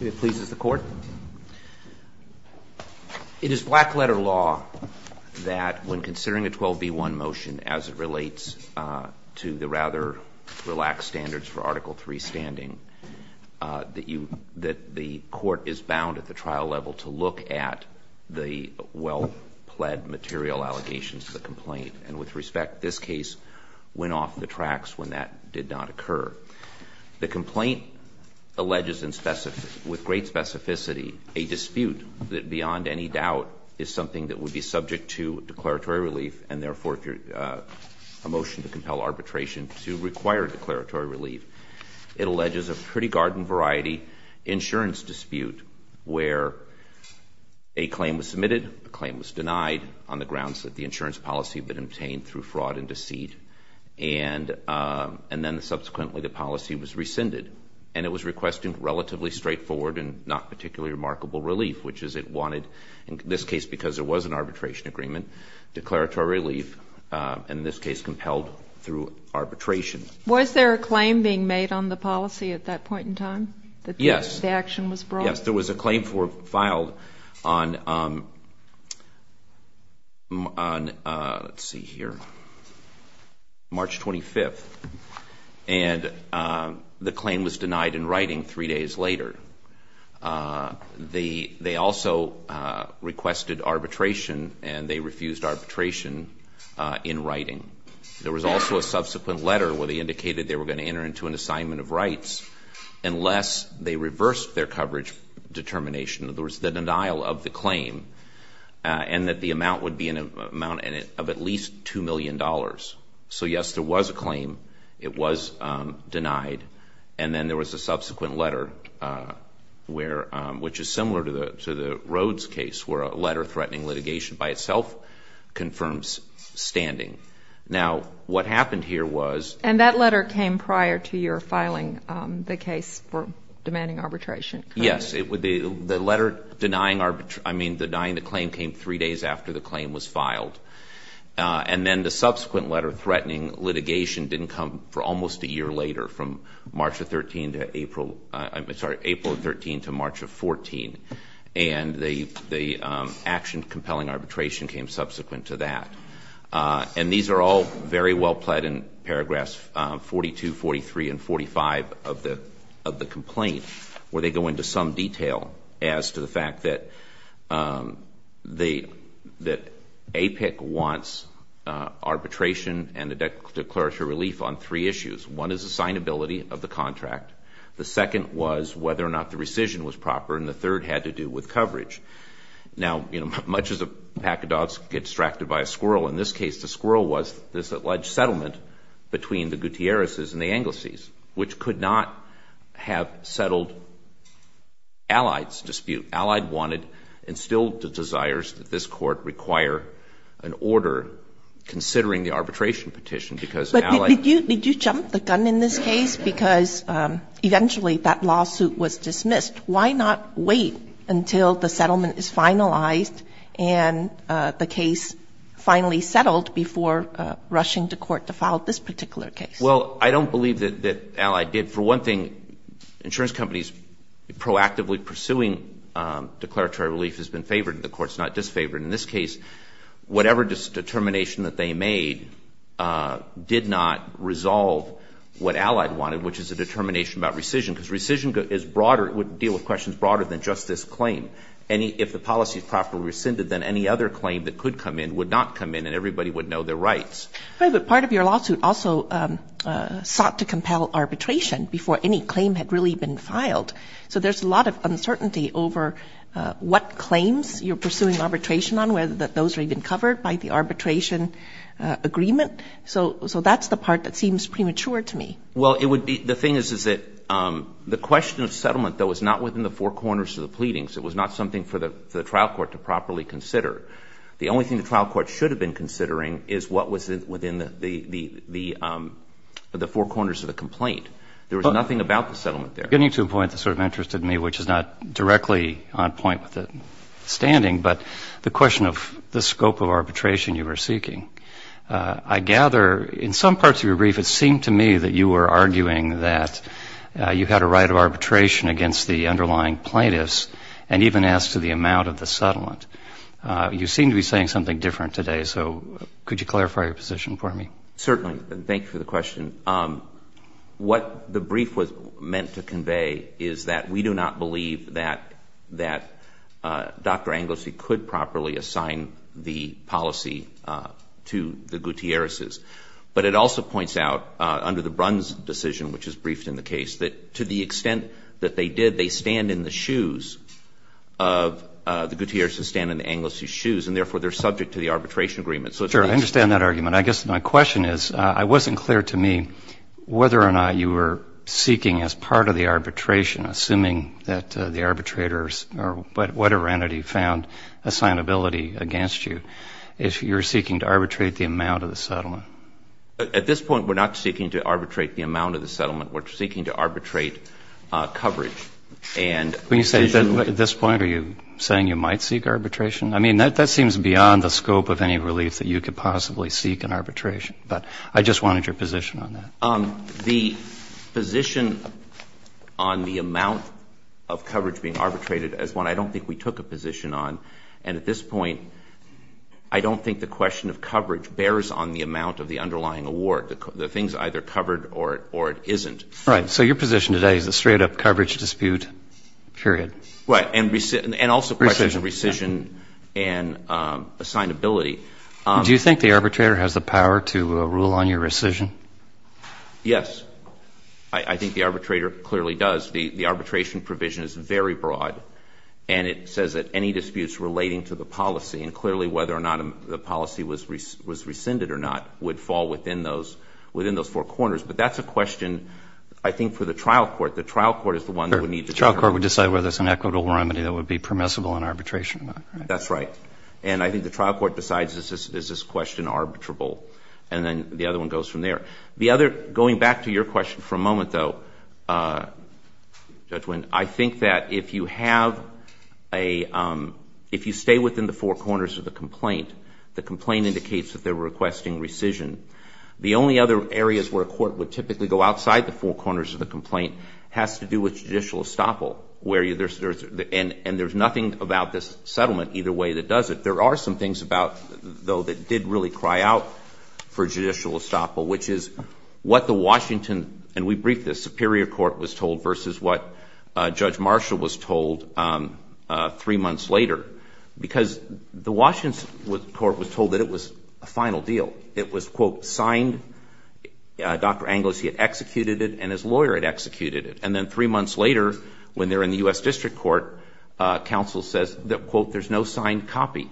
It pleases the Court. It is black-letter law that when considering a 12b-1 motion as it relates to the rather relaxed standards for Article III standing, that the Court is bound at the trial level to look at the well-pled material allegations of the complaint. And with respect, this case went off the tracks when that did not occur. The complaint alleges with great specificity a dispute that beyond any doubt is something that would be subject to declaratory relief, and therefore a motion to compel arbitration to require declaratory relief. It alleges a pretty garden-variety insurance dispute where a claim was submitted, a claim was denied on the grounds that the insurance policy had been obtained through fraud and deceit, and then subsequently the policy was rescinded. And it was requesting relatively straightforward and not particularly remarkable relief, which is it wanted, in this case because there was an arbitration agreement, declaratory relief, and in this case compelled through arbitration. Was there a claim being made on the policy at that point in time? Yes. The action was brought? Yes. There was a claim filed on, let's see here, March 25th, and the claim was denied in writing three days later. They also requested arbitration, and they refused arbitration in writing. There was also a subsequent letter where they indicated they were going to enter into an assignment of rights unless they reversed their coverage determination, in other words, the denial of the claim, and that the amount would be an amount of at least $2 million. So, yes, there was a claim. It was denied. And then there was a subsequent letter, which is similar to the Rhodes case, where a letter threatening litigation by itself confirms standing. Now, what happened here was — And that letter came prior to your filing the case for demanding arbitration? Yes. The letter denying the claim came three days after the claim was filed. And then the subsequent letter threatening litigation didn't come for almost a year later, from March of 13 to April — I'm sorry, April of 13 to March of 14. And the action compelling arbitration came subsequent to that. And these are all very well-plaid in paragraphs 42, 43, and 45 of the complaint, where they go into some detail as to the fact that APIC wants arbitration and a declaratory relief on three issues. One is assignability of the contract. The second was whether or not the rescission was proper. And the third had to do with coverage. Now, you know, much as a pack of dogs can get distracted by a squirrel, in this case the squirrel was this alleged settlement between the Gutierrez's and the Anglici's, which could not have settled Allied's dispute. Allied wanted and still desires that this Court require an order considering the arbitration petition, because Allied — But did you jump the gun in this case? Because eventually that lawsuit was dismissed. Why not wait until the settlement is finalized and the case finally settled before rushing to court to file this particular case? Well, I don't believe that Allied did. For one thing, insurance companies proactively pursuing declaratory relief has been favored. The Court's not disfavored. In this case, whatever determination that they made did not resolve what Allied wanted, which is a determination about rescission, because rescission is broader — would deal with questions broader than just this claim. If the policy is properly rescinded, then any other claim that could come in would not come in and everybody would know their rights. Right, but part of your lawsuit also sought to compel arbitration before any claim had really been filed. So there's a lot of uncertainty over what claims you're pursuing arbitration on, whether those are even covered by the arbitration agreement. So that's the part that seems premature to me. Well, it would be — the thing is, is that the question of settlement, though, is not within the four corners of the pleadings. It was not something for the trial court to properly consider. The only thing the trial court should have been considering is what was within the four corners of the complaint. There was nothing about the settlement there. Getting to a point that sort of interested me, which is not directly on point with the standing, but the question of the scope of arbitration you were seeking, I gather in some parts of your brief it seemed to me that you were arguing that you had a right of arbitration against the underlying plaintiffs and even asked to the amount of the settlement. You seem to be saying something different today. So could you clarify your position for me? Certainly. Thank you for the question. What the brief was meant to convey is that we do not believe that Dr. Anglici could properly assign the policy to the Gutierrez's. But it also points out, under the Brun's decision, which is briefed in the case, that to the extent that they did, they stand in the shoes of the Gutierrez's, stand in Anglici's shoes, and therefore they're subject to the arbitration agreement. Sure. I understand that argument. I guess my question is, it wasn't clear to me whether or not you were seeking as part of the arbitration, assuming that the arbitrators or whatever entity found assignability against you, if you're seeking to arbitrate the amount of the settlement. At this point, we're not seeking to arbitrate the amount of the settlement. We're seeking to arbitrate coverage. When you say at this point, are you saying you might seek arbitration? I mean, that seems beyond the scope of any relief that you could possibly seek in arbitration. But I just wanted your position on that. The position on the amount of coverage being arbitrated is one I don't think we took a position on. And at this point, I don't think the question of coverage bears on the amount of the underlying award. The thing's either covered or it isn't. Right. So your position today is a straight-up coverage dispute, period. Right. And also questions of rescission and assignability. Do you think the arbitrator has the power to rule on your rescission? Yes. I think the arbitrator clearly does. The arbitration provision is very broad, and it says that any disputes relating to the policy, and clearly whether or not the policy was rescinded or not, would fall within those four corners. But that's a question, I think, for the trial court. The trial court is the one that would need to determine. The trial court would decide whether it's an equitable remedy that would be permissible in arbitration. That's right. And I think the trial court decides is this question arbitrable. And then the other one goes from there. The other, going back to your question for a moment, though, Judge Winn, I think that if you have a if you stay within the four corners of the complaint, the complaint indicates that they're requesting rescission. The only other areas where a court would typically go outside the four corners of the complaint has to do with judicial estoppel. And there's nothing about this settlement either way that does it. There are some things, though, that did really cry out for judicial estoppel, which is what the Washington and we briefed this, Superior Court was told versus what Judge Marshall was told three months later. Because the Washington court was told that it was a final deal. It was, quote, signed. Dr. Anglosy had executed it, and his lawyer had executed it. And then three months later, when they're in the U.S. District Court, counsel says, quote, there's no signed copy.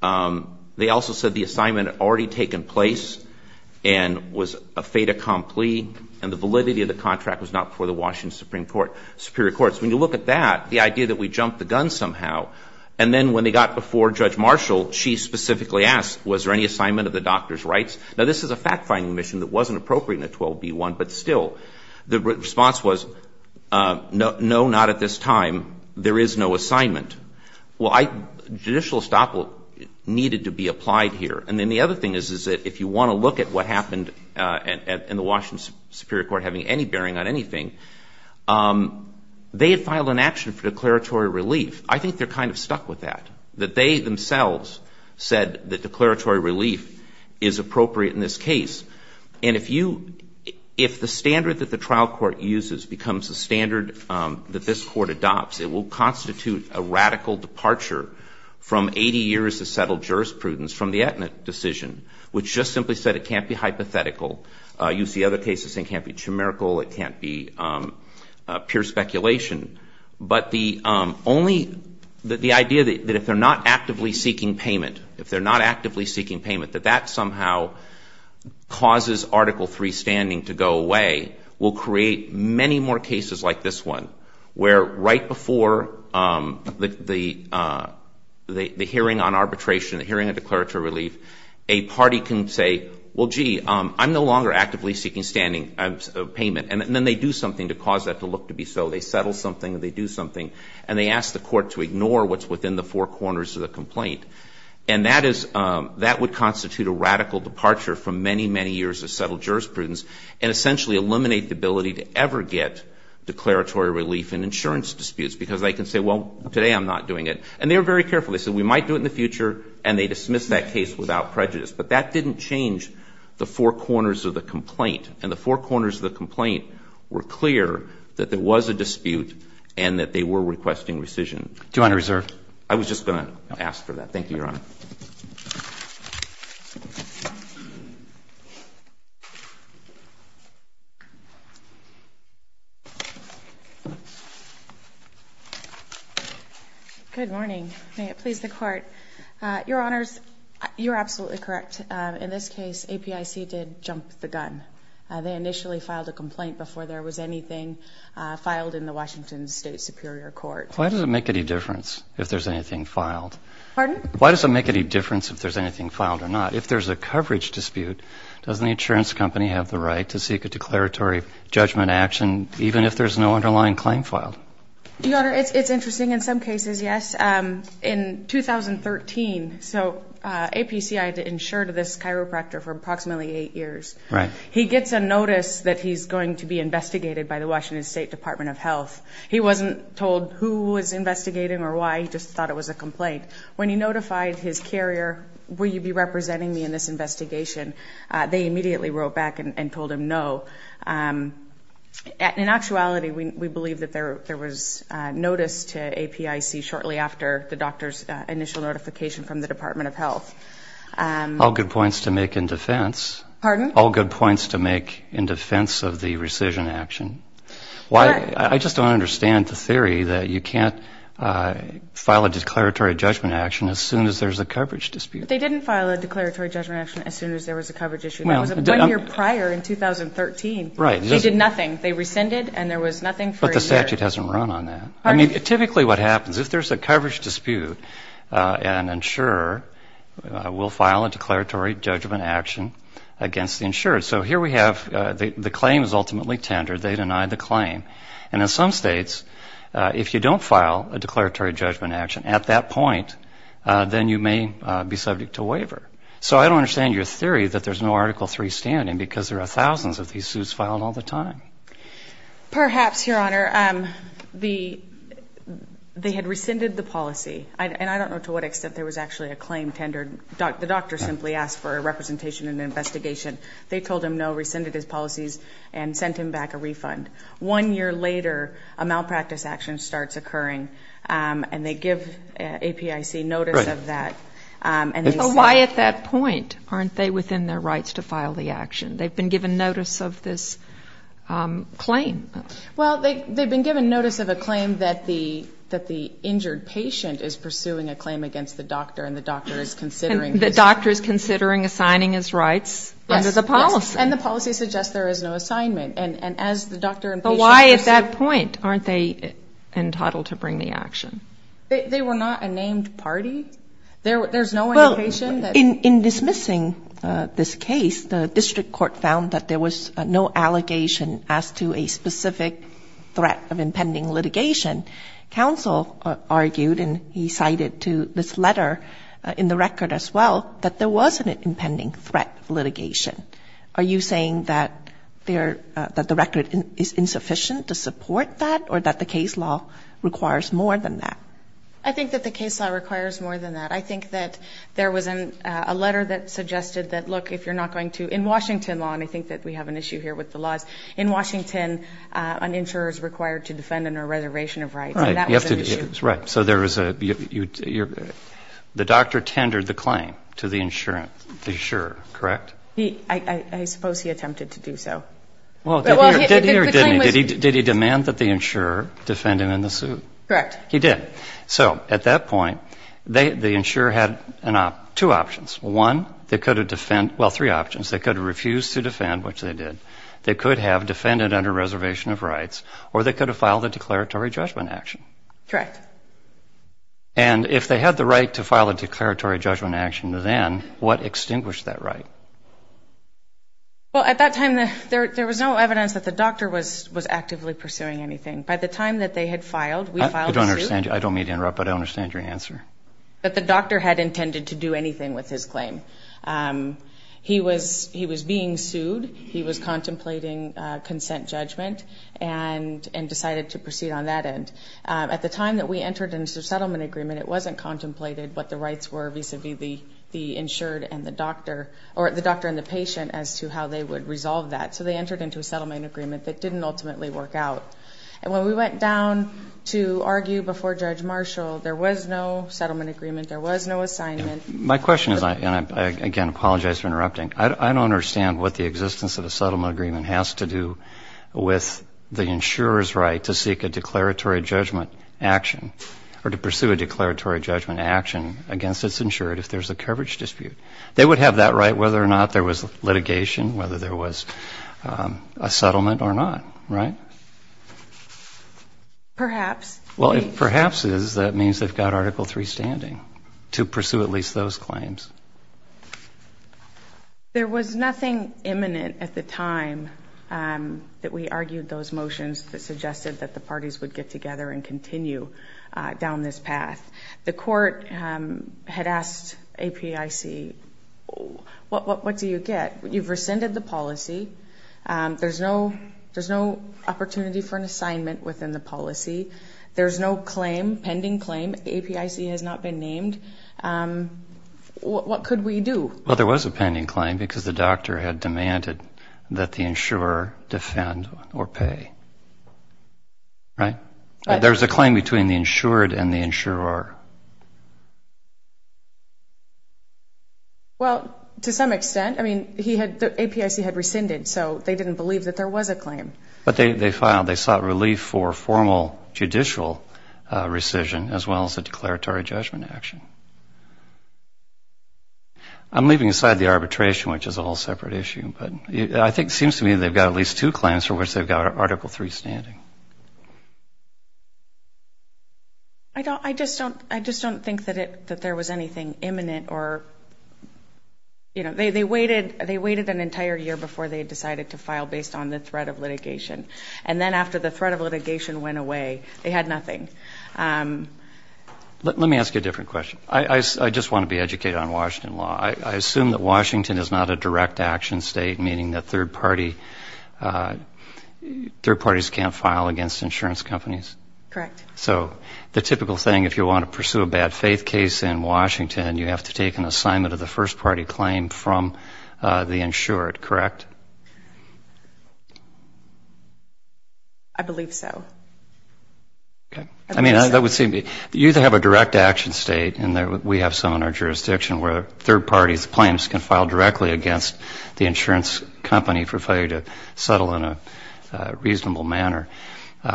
They also said the assignment had already taken place and was a fait accompli, and the validity of the contract was not before the Washington Supreme Court, Superior Courts. When you look at that, the idea that we jumped the gun somehow, and then when they got before Judge Marshall, she specifically asked, was there any assignment of the doctor's rights? Now, this is a fact-finding mission that wasn't appropriate in the 12b1, but still. The response was, no, not at this time. There is no assignment. Well, judicial estoppel needed to be applied here. And then the other thing is that if you want to look at what happened in the Washington Superior Court having any bearing on anything, they had filed an action for declaratory relief. I think they're kind of stuck with that, that they themselves said that declaratory relief is appropriate in this case. And if you ‑‑ if the standard that the trial court uses becomes the standard that this court adopts, it will constitute a radical departure from 80 years of settled jurisprudence from the Etna decision, which just simply said it can't be hypothetical. You see other cases saying it can't be numerical, it can't be pure speculation. But the only ‑‑ the idea that if they're not actively seeking payment, if they're not actively seeking payment, that that somehow causes Article III standing to go away, will create many more cases like this one, where right before the hearing on arbitration, the hearing on declaratory relief, a party can say, well, gee, I'm no longer actively seeking payment. And then they do something to cause that to look to be so. They settle something or they do something. And they ask the court to ignore what's within the four corners of the complaint. And that is ‑‑ that would constitute a radical departure from many, many years of settled jurisprudence and essentially eliminate the ability to ever get declaratory relief in insurance disputes. Because they can say, well, today I'm not doing it. And they were very careful. They said, we might do it in the future. And they dismissed that case without prejudice. But that didn't change the four corners of the complaint. And the four corners of the complaint were clear that there was a dispute and that they were requesting rescission. Do you want to reserve? I was just going to ask for that. Thank you, Your Honor. Good morning. May it please the Court. Your Honors, you're absolutely correct. In this case, APIC did jump the gun. They initially filed a complaint before there was anything filed in the Washington State Superior Court. Why does it make any difference if there's anything filed? Pardon? Why does it make any difference if there's anything filed or not? If there's a coverage dispute, doesn't the insurance company have the right to seek a declaratory judgment action even if there's no underlying claim filed? Your Honor, it's interesting in some cases, yes. In 2013, so APCI had to insure this chiropractor for approximately eight years. He gets a notice that he's going to be investigated by the Washington State Department of Health. He wasn't told who was investigating or why. He just thought it was a complaint. When he notified his carrier, will you be representing me in this investigation, they immediately wrote back and told him no. In actuality, we believe that there was notice to APIC shortly after the doctor's initial notification from the Department of Health. All good points to make in defense. Pardon? All good points to make in defense of the rescission action. I just don't understand the theory that you can't file a declaratory judgment action as soon as there's a coverage dispute. They didn't file a declaratory judgment action as soon as there was a coverage issue. That was one year prior in 2013. Right. They did nothing. They rescinded, and there was nothing for a year. But the statute hasn't run on that. I mean, typically what happens, if there's a coverage dispute, an insurer will file a declaratory judgment action against the insured. So here we have the claim is ultimately tendered. They deny the claim. And in some states, if you don't file a declaratory judgment action at that point, then you may be subject to waiver. So I don't understand your theory that there's no Article III standing because there are thousands of these suits filed all the time. Perhaps, Your Honor. They had rescinded the policy. And I don't know to what extent there was actually a claim tendered. The doctor simply asked for a representation and an investigation. They told him no, rescinded his policies, and sent him back a refund. One year later, a malpractice action starts occurring, and they give APIC notice of that. But why at that point aren't they within their rights to file the action? They've been given notice of this claim. Well, they've been given notice of a claim that the injured patient is pursuing a claim against the doctor and the doctor is considering his rights. And the doctor is considering assigning his rights under the policy. Yes. And the policy suggests there is no assignment. And as the doctor and patient pursue. But why at that point aren't they entitled to bring the action? They were not a named party. There's no indication that. Well, in dismissing this case, the district court found that there was no allegation as to a specific threat of impending litigation. Counsel argued, and he cited to this letter in the record as well, that there was an impending threat of litigation. Are you saying that the record is insufficient to support that or that the case law requires more than that? I think that the case law requires more than that. I think that there was a letter that suggested that, look, if you're not going to ‑‑ in Washington law, and I think that we have an issue here with the laws, in Washington an insurer is required to defend under a reservation of rights. Right. And that was an issue. Right. So there was a ‑‑ the doctor tendered the claim to the insurer, correct? I suppose he attempted to do so. Well, did he or didn't he? Did he demand that the insurer defend him in the suit? Correct. He did. So at that point, the insurer had two options. One, they could have ‑‑ well, three options. They could have refused to defend, which they did. They could have defended under reservation of rights. Or they could have filed a declaratory judgment action. Correct. And if they had the right to file a declaratory judgment action then, what extinguished that right? Well, at that time there was no evidence that the doctor was actively pursuing anything. By the time that they had filed, we filed the suit. I don't mean to interrupt, but I don't understand your answer. But the doctor had intended to do anything with his claim. He was being sued. He was contemplating consent judgment and decided to proceed on that end. At the time that we entered into a settlement agreement, it wasn't contemplated what the rights were vis‑a‑vis the insured and the doctor or the doctor and the patient as to how they would resolve that. So they entered into a settlement agreement that didn't ultimately work out. And when we went down to argue before Judge Marshall, there was no settlement agreement. There was no assignment. My question is, and I again apologize for interrupting, I don't understand what the existence of a settlement agreement has to do with the insurer's right to seek a declaratory judgment action or to pursue a declaratory judgment action against its insured if there's a coverage dispute. They would have that right whether or not there was litigation, whether there was a settlement or not, right? Perhaps. Well, if perhaps is, that means they've got Article III standing to pursue at least those claims. There was nothing imminent at the time that we argued those motions that suggested that the parties would get together and continue down this path. The court had asked APIC, what do you get? You've rescinded the policy. There's no opportunity for an assignment within the policy. There's no claim, pending claim. APIC has not been named. What could we do? Well, there was a pending claim because the doctor had demanded that the insurer defend or pay, right? Well, to some extent. I mean, he had, APIC had rescinded, so they didn't believe that there was a claim. But they filed, they sought relief for formal judicial rescission as well as a declaratory judgment action. I'm leaving aside the arbitration, which is a whole separate issue, but I think it seems to me they've got at least two claims for which they've got Article III standing. I just don't think that there was anything imminent or, you know, they waited an entire year before they decided to file based on the threat of litigation. And then after the threat of litigation went away, they had nothing. Let me ask you a different question. I just want to be educated on Washington law. I assume that Washington is not a direct action state, meaning that third parties can't file against insurance companies? Correct. So the typical thing, if you want to pursue a bad faith case in Washington, you have to take an assignment of the first party claim from the insured, correct? I believe so. Okay. I mean, that would seem to me, you either have a direct action state, and we have some in our jurisdiction where third parties' claims can file directly against the insurance company for failure to settle in a reasonable manner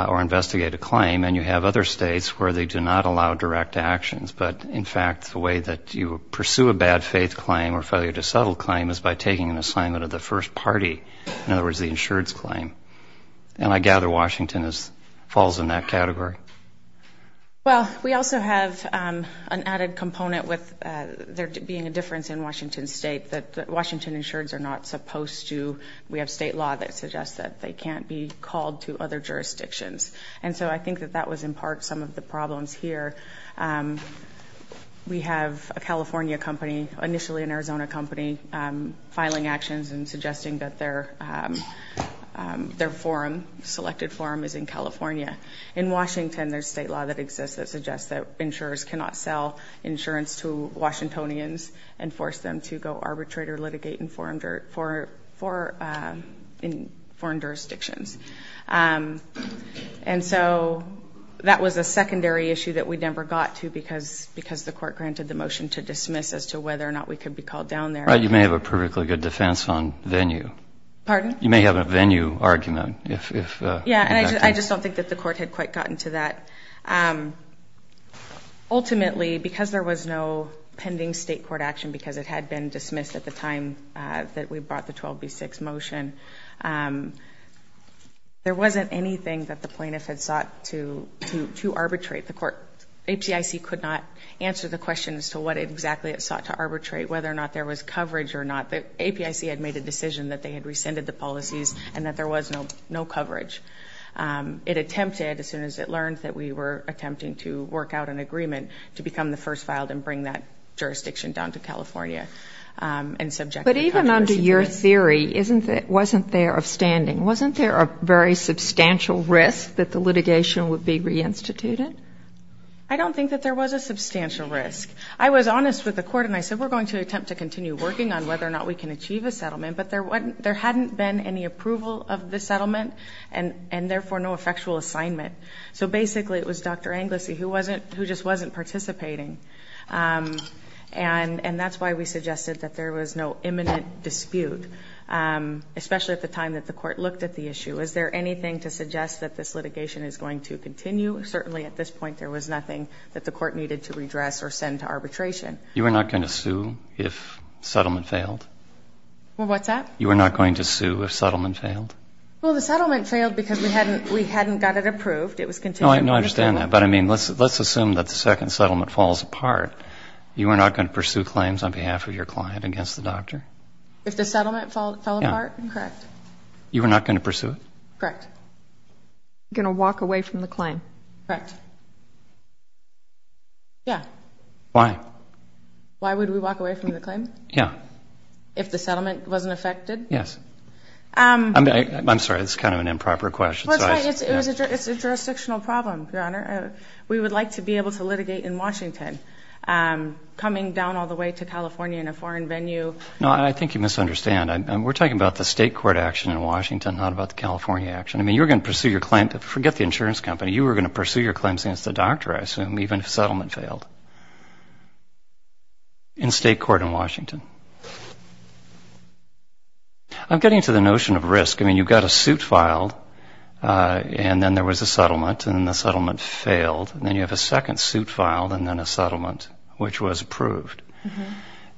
or investigate a claim, and you have other states where they do not allow direct actions. But, in fact, the way that you pursue a bad faith claim or failure to settle claim is by taking an assignment of the first party, in other words, the insured's claim. And I gather Washington falls in that category. Well, we also have an added component with there being a difference in Washington State, that Washington insureds are not supposed to, we have state law that suggests that they can't be called to other jurisdictions. And so I think that that was in part some of the problems here. We have a California company, initially an Arizona company, filing actions and suggesting that their forum, selected forum, is in California. In Washington, there's state law that exists that suggests that insurers cannot sell insurance to Washingtonians and force them to go arbitrate or litigate in foreign jurisdictions. And so that was a secondary issue that we never got to because the court granted the motion to dismiss as to whether or not we could be called down there. You may have a perfectly good defense on venue. Pardon? You may have a venue argument. Yeah, and I just don't think that the court had quite gotten to that. Ultimately, because there was no pending state court action, because it had been dismissed at the time that we brought the 12B6 motion, there wasn't anything that the plaintiff had sought to arbitrate. The court, APIC, could not answer the question as to what exactly it sought to arbitrate, whether or not there was coverage or not. APIC had made a decision that they had rescinded the policies and that there was no coverage. It attempted, as soon as it learned that we were attempting to work out an agreement, to become the first filed and bring that jurisdiction down to California and subject it to coverage. But even under your theory, wasn't there a standing? Wasn't there a very substantial risk that the litigation would be reinstituted? I don't think that there was a substantial risk. I was honest with the court, and I said, we're going to attempt to continue working on whether or not we can achieve a settlement. But there hadn't been any approval of the settlement and, therefore, no effectual assignment. So, basically, it was Dr. Anglici who just wasn't participating. And that's why we suggested that there was no imminent dispute, especially at the time that the court looked at the issue. Is there anything to suggest that this litigation is going to continue? Certainly, at this point, there was nothing that the court needed to redress or send to arbitration. You were not going to sue if settlement failed? Well, what's that? You were not going to sue if settlement failed? Well, the settlement failed because we hadn't got it approved. It was continued. No, I understand that. But, I mean, let's assume that the second settlement falls apart. You were not going to pursue claims on behalf of your client against the doctor? If the settlement fell apart? Yeah. Correct. You were not going to pursue it? Correct. Going to walk away from the claim? Correct. Yeah. Why? Why would we walk away from the claim? Yeah. If the settlement wasn't affected? Yes. I'm sorry, this is kind of an improper question. Well, it's a jurisdictional problem, Your Honor. We would like to be able to litigate in Washington. Coming down all the way to California in a foreign venue. No, I think you misunderstand. We're talking about the state court action in Washington, not about the California action. I mean, you were going to pursue your claim. Forget the insurance company. You were going to pursue your claims against the doctor, I assume, even if settlement failed. In state court in Washington. I'm getting to the notion of risk. I mean, you've got a suit filed, and then there was a settlement, and then the settlement failed. And then you have a second suit filed and then a settlement, which was approved.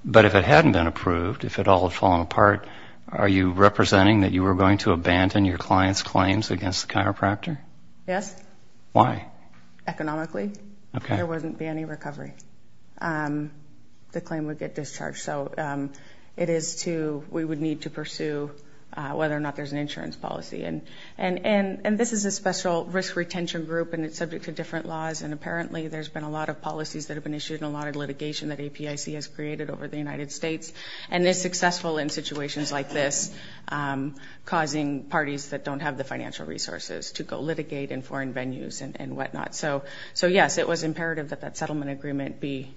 But if it hadn't been approved, if it all had fallen apart, are you representing that you were going to abandon your client's claims against the chiropractor? Yes. Why? Economically. Okay. Because there wouldn't be any recovery. The claim would get discharged. So it is to we would need to pursue whether or not there's an insurance policy. And this is a special risk retention group, and it's subject to different laws. And apparently there's been a lot of policies that have been issued and a lot of litigation that APIC has created over the United States. And it's successful in situations like this, causing parties that don't have the financial resources to go litigate in foreign venues and whatnot. So, yes, it was imperative that that settlement agreement be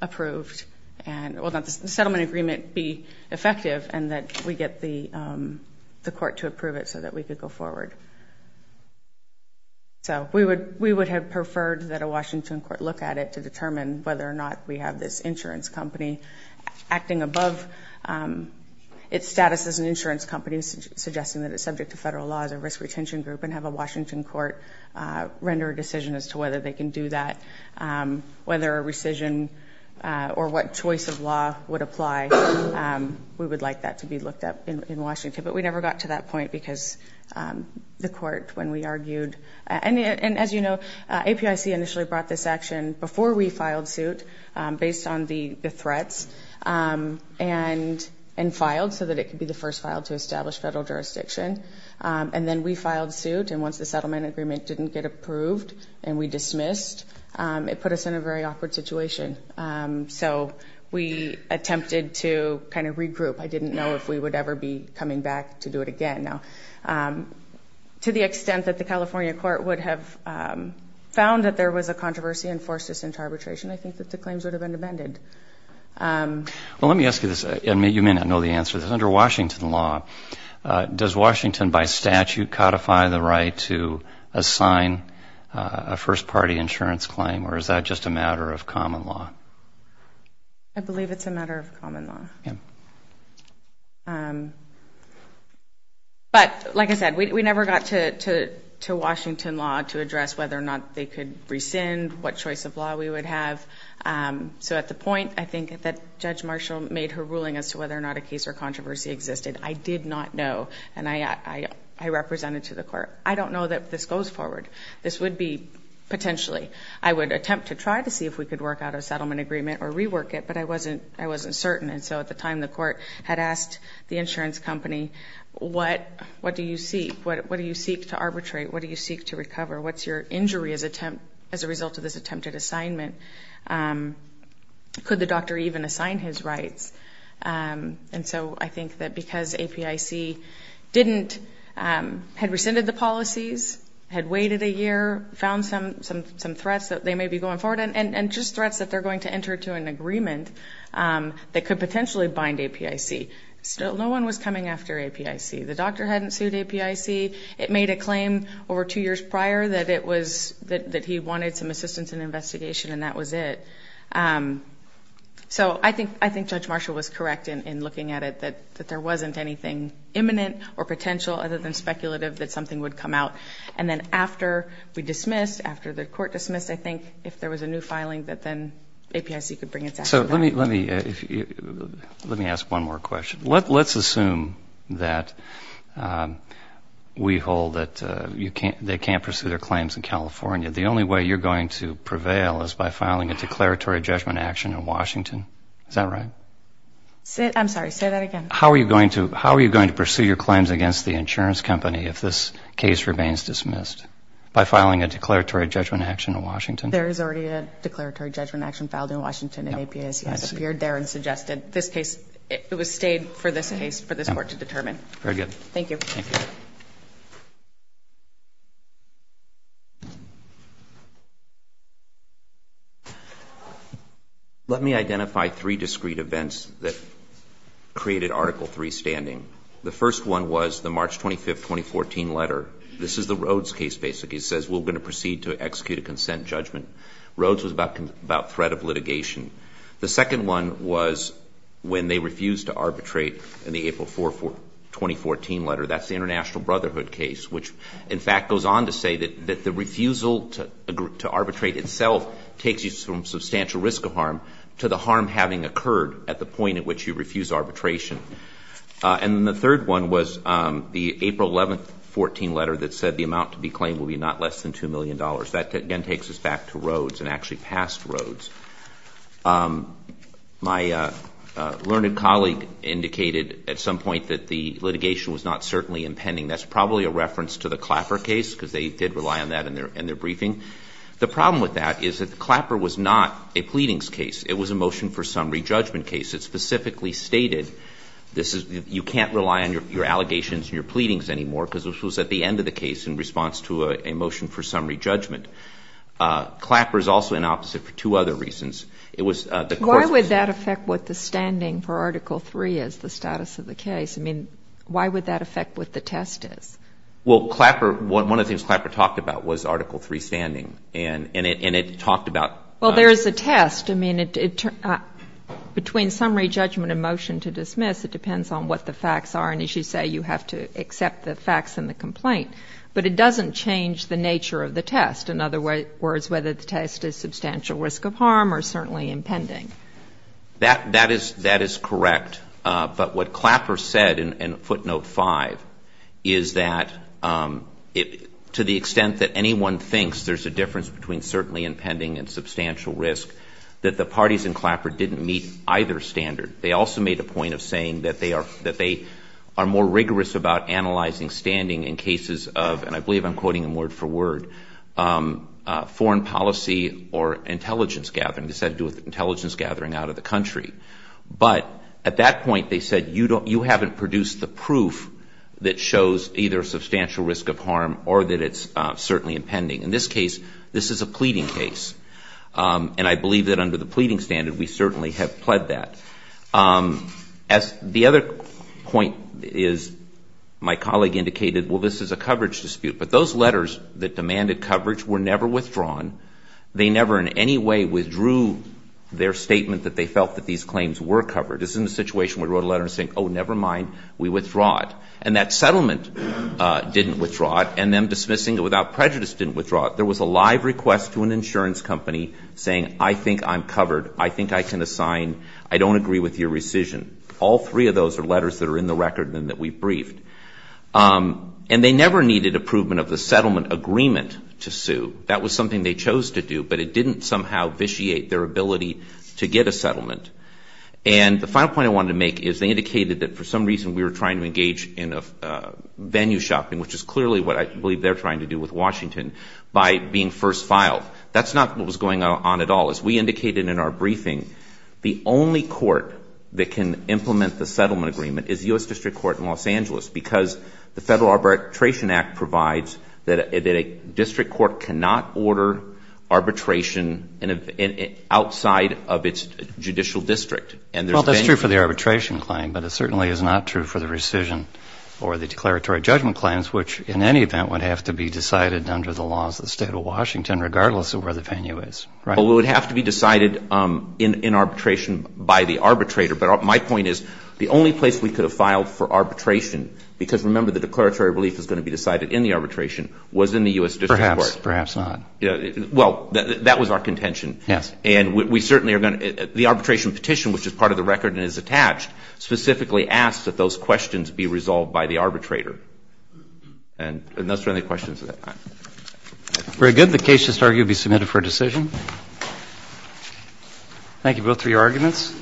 approved and that the settlement agreement be effective and that we get the court to approve it so that we could go forward. So we would have preferred that a Washington court look at it to determine whether or not we have this insurance company acting above its status as an insurance company, suggesting that it's subject to federal laws, a risk retention group, and have a Washington court render a decision as to whether they can do that, whether a rescission or what choice of law would apply. We would like that to be looked at in Washington. But we never got to that point because the court, when we argued, and as you know, APIC initially brought this action before we filed suit based on the threats and filed so that it could be the first file to establish federal jurisdiction. And then we filed suit, and once the settlement agreement didn't get approved and we dismissed, it put us in a very awkward situation. So we attempted to kind of regroup. I didn't know if we would ever be coming back to do it again. Now, to the extent that the California court would have found that there was a controversy and forced us into arbitration, I think that the claims would have been amended. Well, let me ask you this, and you may not know the answer to this. Does Washington, by statute, codify the right to assign a first-party insurance claim, or is that just a matter of common law? I believe it's a matter of common law. But like I said, we never got to Washington law to address whether or not they could rescind, what choice of law we would have. So at the point, I think that Judge Marshall made her ruling as to whether or not a case or controversy existed. I did not know, and I represented to the court. I don't know that this goes forward. This would be potentially. I would attempt to try to see if we could work out a settlement agreement or rework it, but I wasn't certain. And so at the time, the court had asked the insurance company, what do you seek? What do you seek to arbitrate? What do you seek to recover? What's your injury as a result of this attempted assignment? Could the doctor even assign his rights? And so I think that because APIC didn't, had rescinded the policies, had waited a year, found some threats that they may be going forward, and just threats that they're going to enter into an agreement that could potentially bind APIC. So no one was coming after APIC. The doctor hadn't sued APIC. It made a claim over two years prior that it was, that he wanted some assistance in investigation, and that was it. So I think Judge Marshall was correct in looking at it, that there wasn't anything imminent or potential other than speculative that something would come out. And then after we dismissed, after the court dismissed, I think, if there was a new filing that then APIC could bring its act together. So let me ask one more question. Let's assume that we hold that they can't pursue their claims in California. The only way you're going to prevail is by filing a declaratory judgment action in Washington. Is that right? I'm sorry, say that again. How are you going to pursue your claims against the insurance company if this case remains dismissed? By filing a declaratory judgment action in Washington? There is already a declaratory judgment action filed in Washington, and APIC has appeared there and suggested this case, it was stayed for this case, for this court to determine. Very good. Thank you. Thank you. Let me identify three discrete events that created Article III standing. The first one was the March 25, 2014 letter. This is the Rhodes case, basically. It says we're going to proceed to execute a consent judgment. Rhodes was about threat of litigation. The second one was when they refused to arbitrate in the April 4, 2014 letter. That's the International Brotherhood case, which, in fact, goes on to say that the refusal to arbitrate itself takes you from substantial risk of harm to the harm having occurred at the point at which you refuse arbitration. And the third one was the April 11, 2014 letter that said the amount to be claimed will be not less than $2 million. That, again, takes us back to Rhodes and actually past Rhodes. My learned colleague indicated at some point that the litigation was not certainly impending. That's probably a reference to the Clapper case, because they did rely on that in their briefing. The problem with that is that Clapper was not a pleadings case. It was a motion for summary judgment case. It specifically stated you can't rely on your allegations and your pleadings anymore, because it was at the end of the case in response to a motion for summary judgment. Clapper is also inopposite for two other reasons. It was the court's case. Why would that affect what the standing for Article III is, the status of the case? I mean, why would that affect what the test is? Well, Clapper, one of the things Clapper talked about was Article III standing, and it talked about the status of the case. Well, there is a test. And as you say, you have to accept the facts in the complaint. But it doesn't change the nature of the test. In other words, whether the test is substantial risk of harm or certainly impending. That is correct. But what Clapper said in footnote 5 is that to the extent that anyone thinks there's a difference between certainly impending and substantial risk, that the parties in Clapper didn't meet either standard. They also made a point of saying that they are more rigorous about analyzing standing in cases of, and I believe I'm quoting them word for word, foreign policy or intelligence gathering. This had to do with intelligence gathering out of the country. But at that point, they said you haven't produced the proof that shows either substantial risk of harm or that it's certainly impending. In this case, this is a pleading case. And I believe that under the pleading standard, we certainly have pled that. The other point is my colleague indicated, well, this is a coverage dispute. But those letters that demanded coverage were never withdrawn. They never in any way withdrew their statement that they felt that these claims were covered. This is a situation where we wrote a letter saying, oh, never mind, we withdraw it. And that settlement didn't withdraw it. And them dismissing it without prejudice didn't withdraw it. There was a live request to an insurance company saying, I think I'm covered. I think I can assign. I don't agree with your rescission. All three of those are letters that are in the record and that we briefed. And they never needed approval of the settlement agreement to sue. That was something they chose to do, but it didn't somehow vitiate their ability to get a settlement. And the final point I wanted to make is they indicated that for some reason we were trying to engage in venue shopping, which is clearly what I believe they're trying to do with Washington, by being first filed. That's not what was going on at all. As we indicated in our briefing, the only court that can implement the settlement agreement is the U.S. District Court in Los Angeles because the Federal Arbitration Act provides that a district court cannot order arbitration outside of its judicial district. And there's been no ---- Well, that's true for the arbitration claim, but it certainly is not true for the rescission or the declaratory judgment claims, which in any event would have to be decided under the laws of the State of Washington, regardless of where the venue is, right? Well, it would have to be decided in arbitration by the arbitrator, but my point is the only place we could have filed for arbitration, because remember the declaratory relief is going to be decided in the arbitration, was in the U.S. District Court. Perhaps not. Well, that was our contention. Yes. And we certainly are going to ---- The arbitration petition, which is part of the record and is attached, specifically asks that those questions be resolved by the arbitrator. And unless there are any questions at that time. Very good. The case is argued to be submitted for decision. Thank you both for your arguments.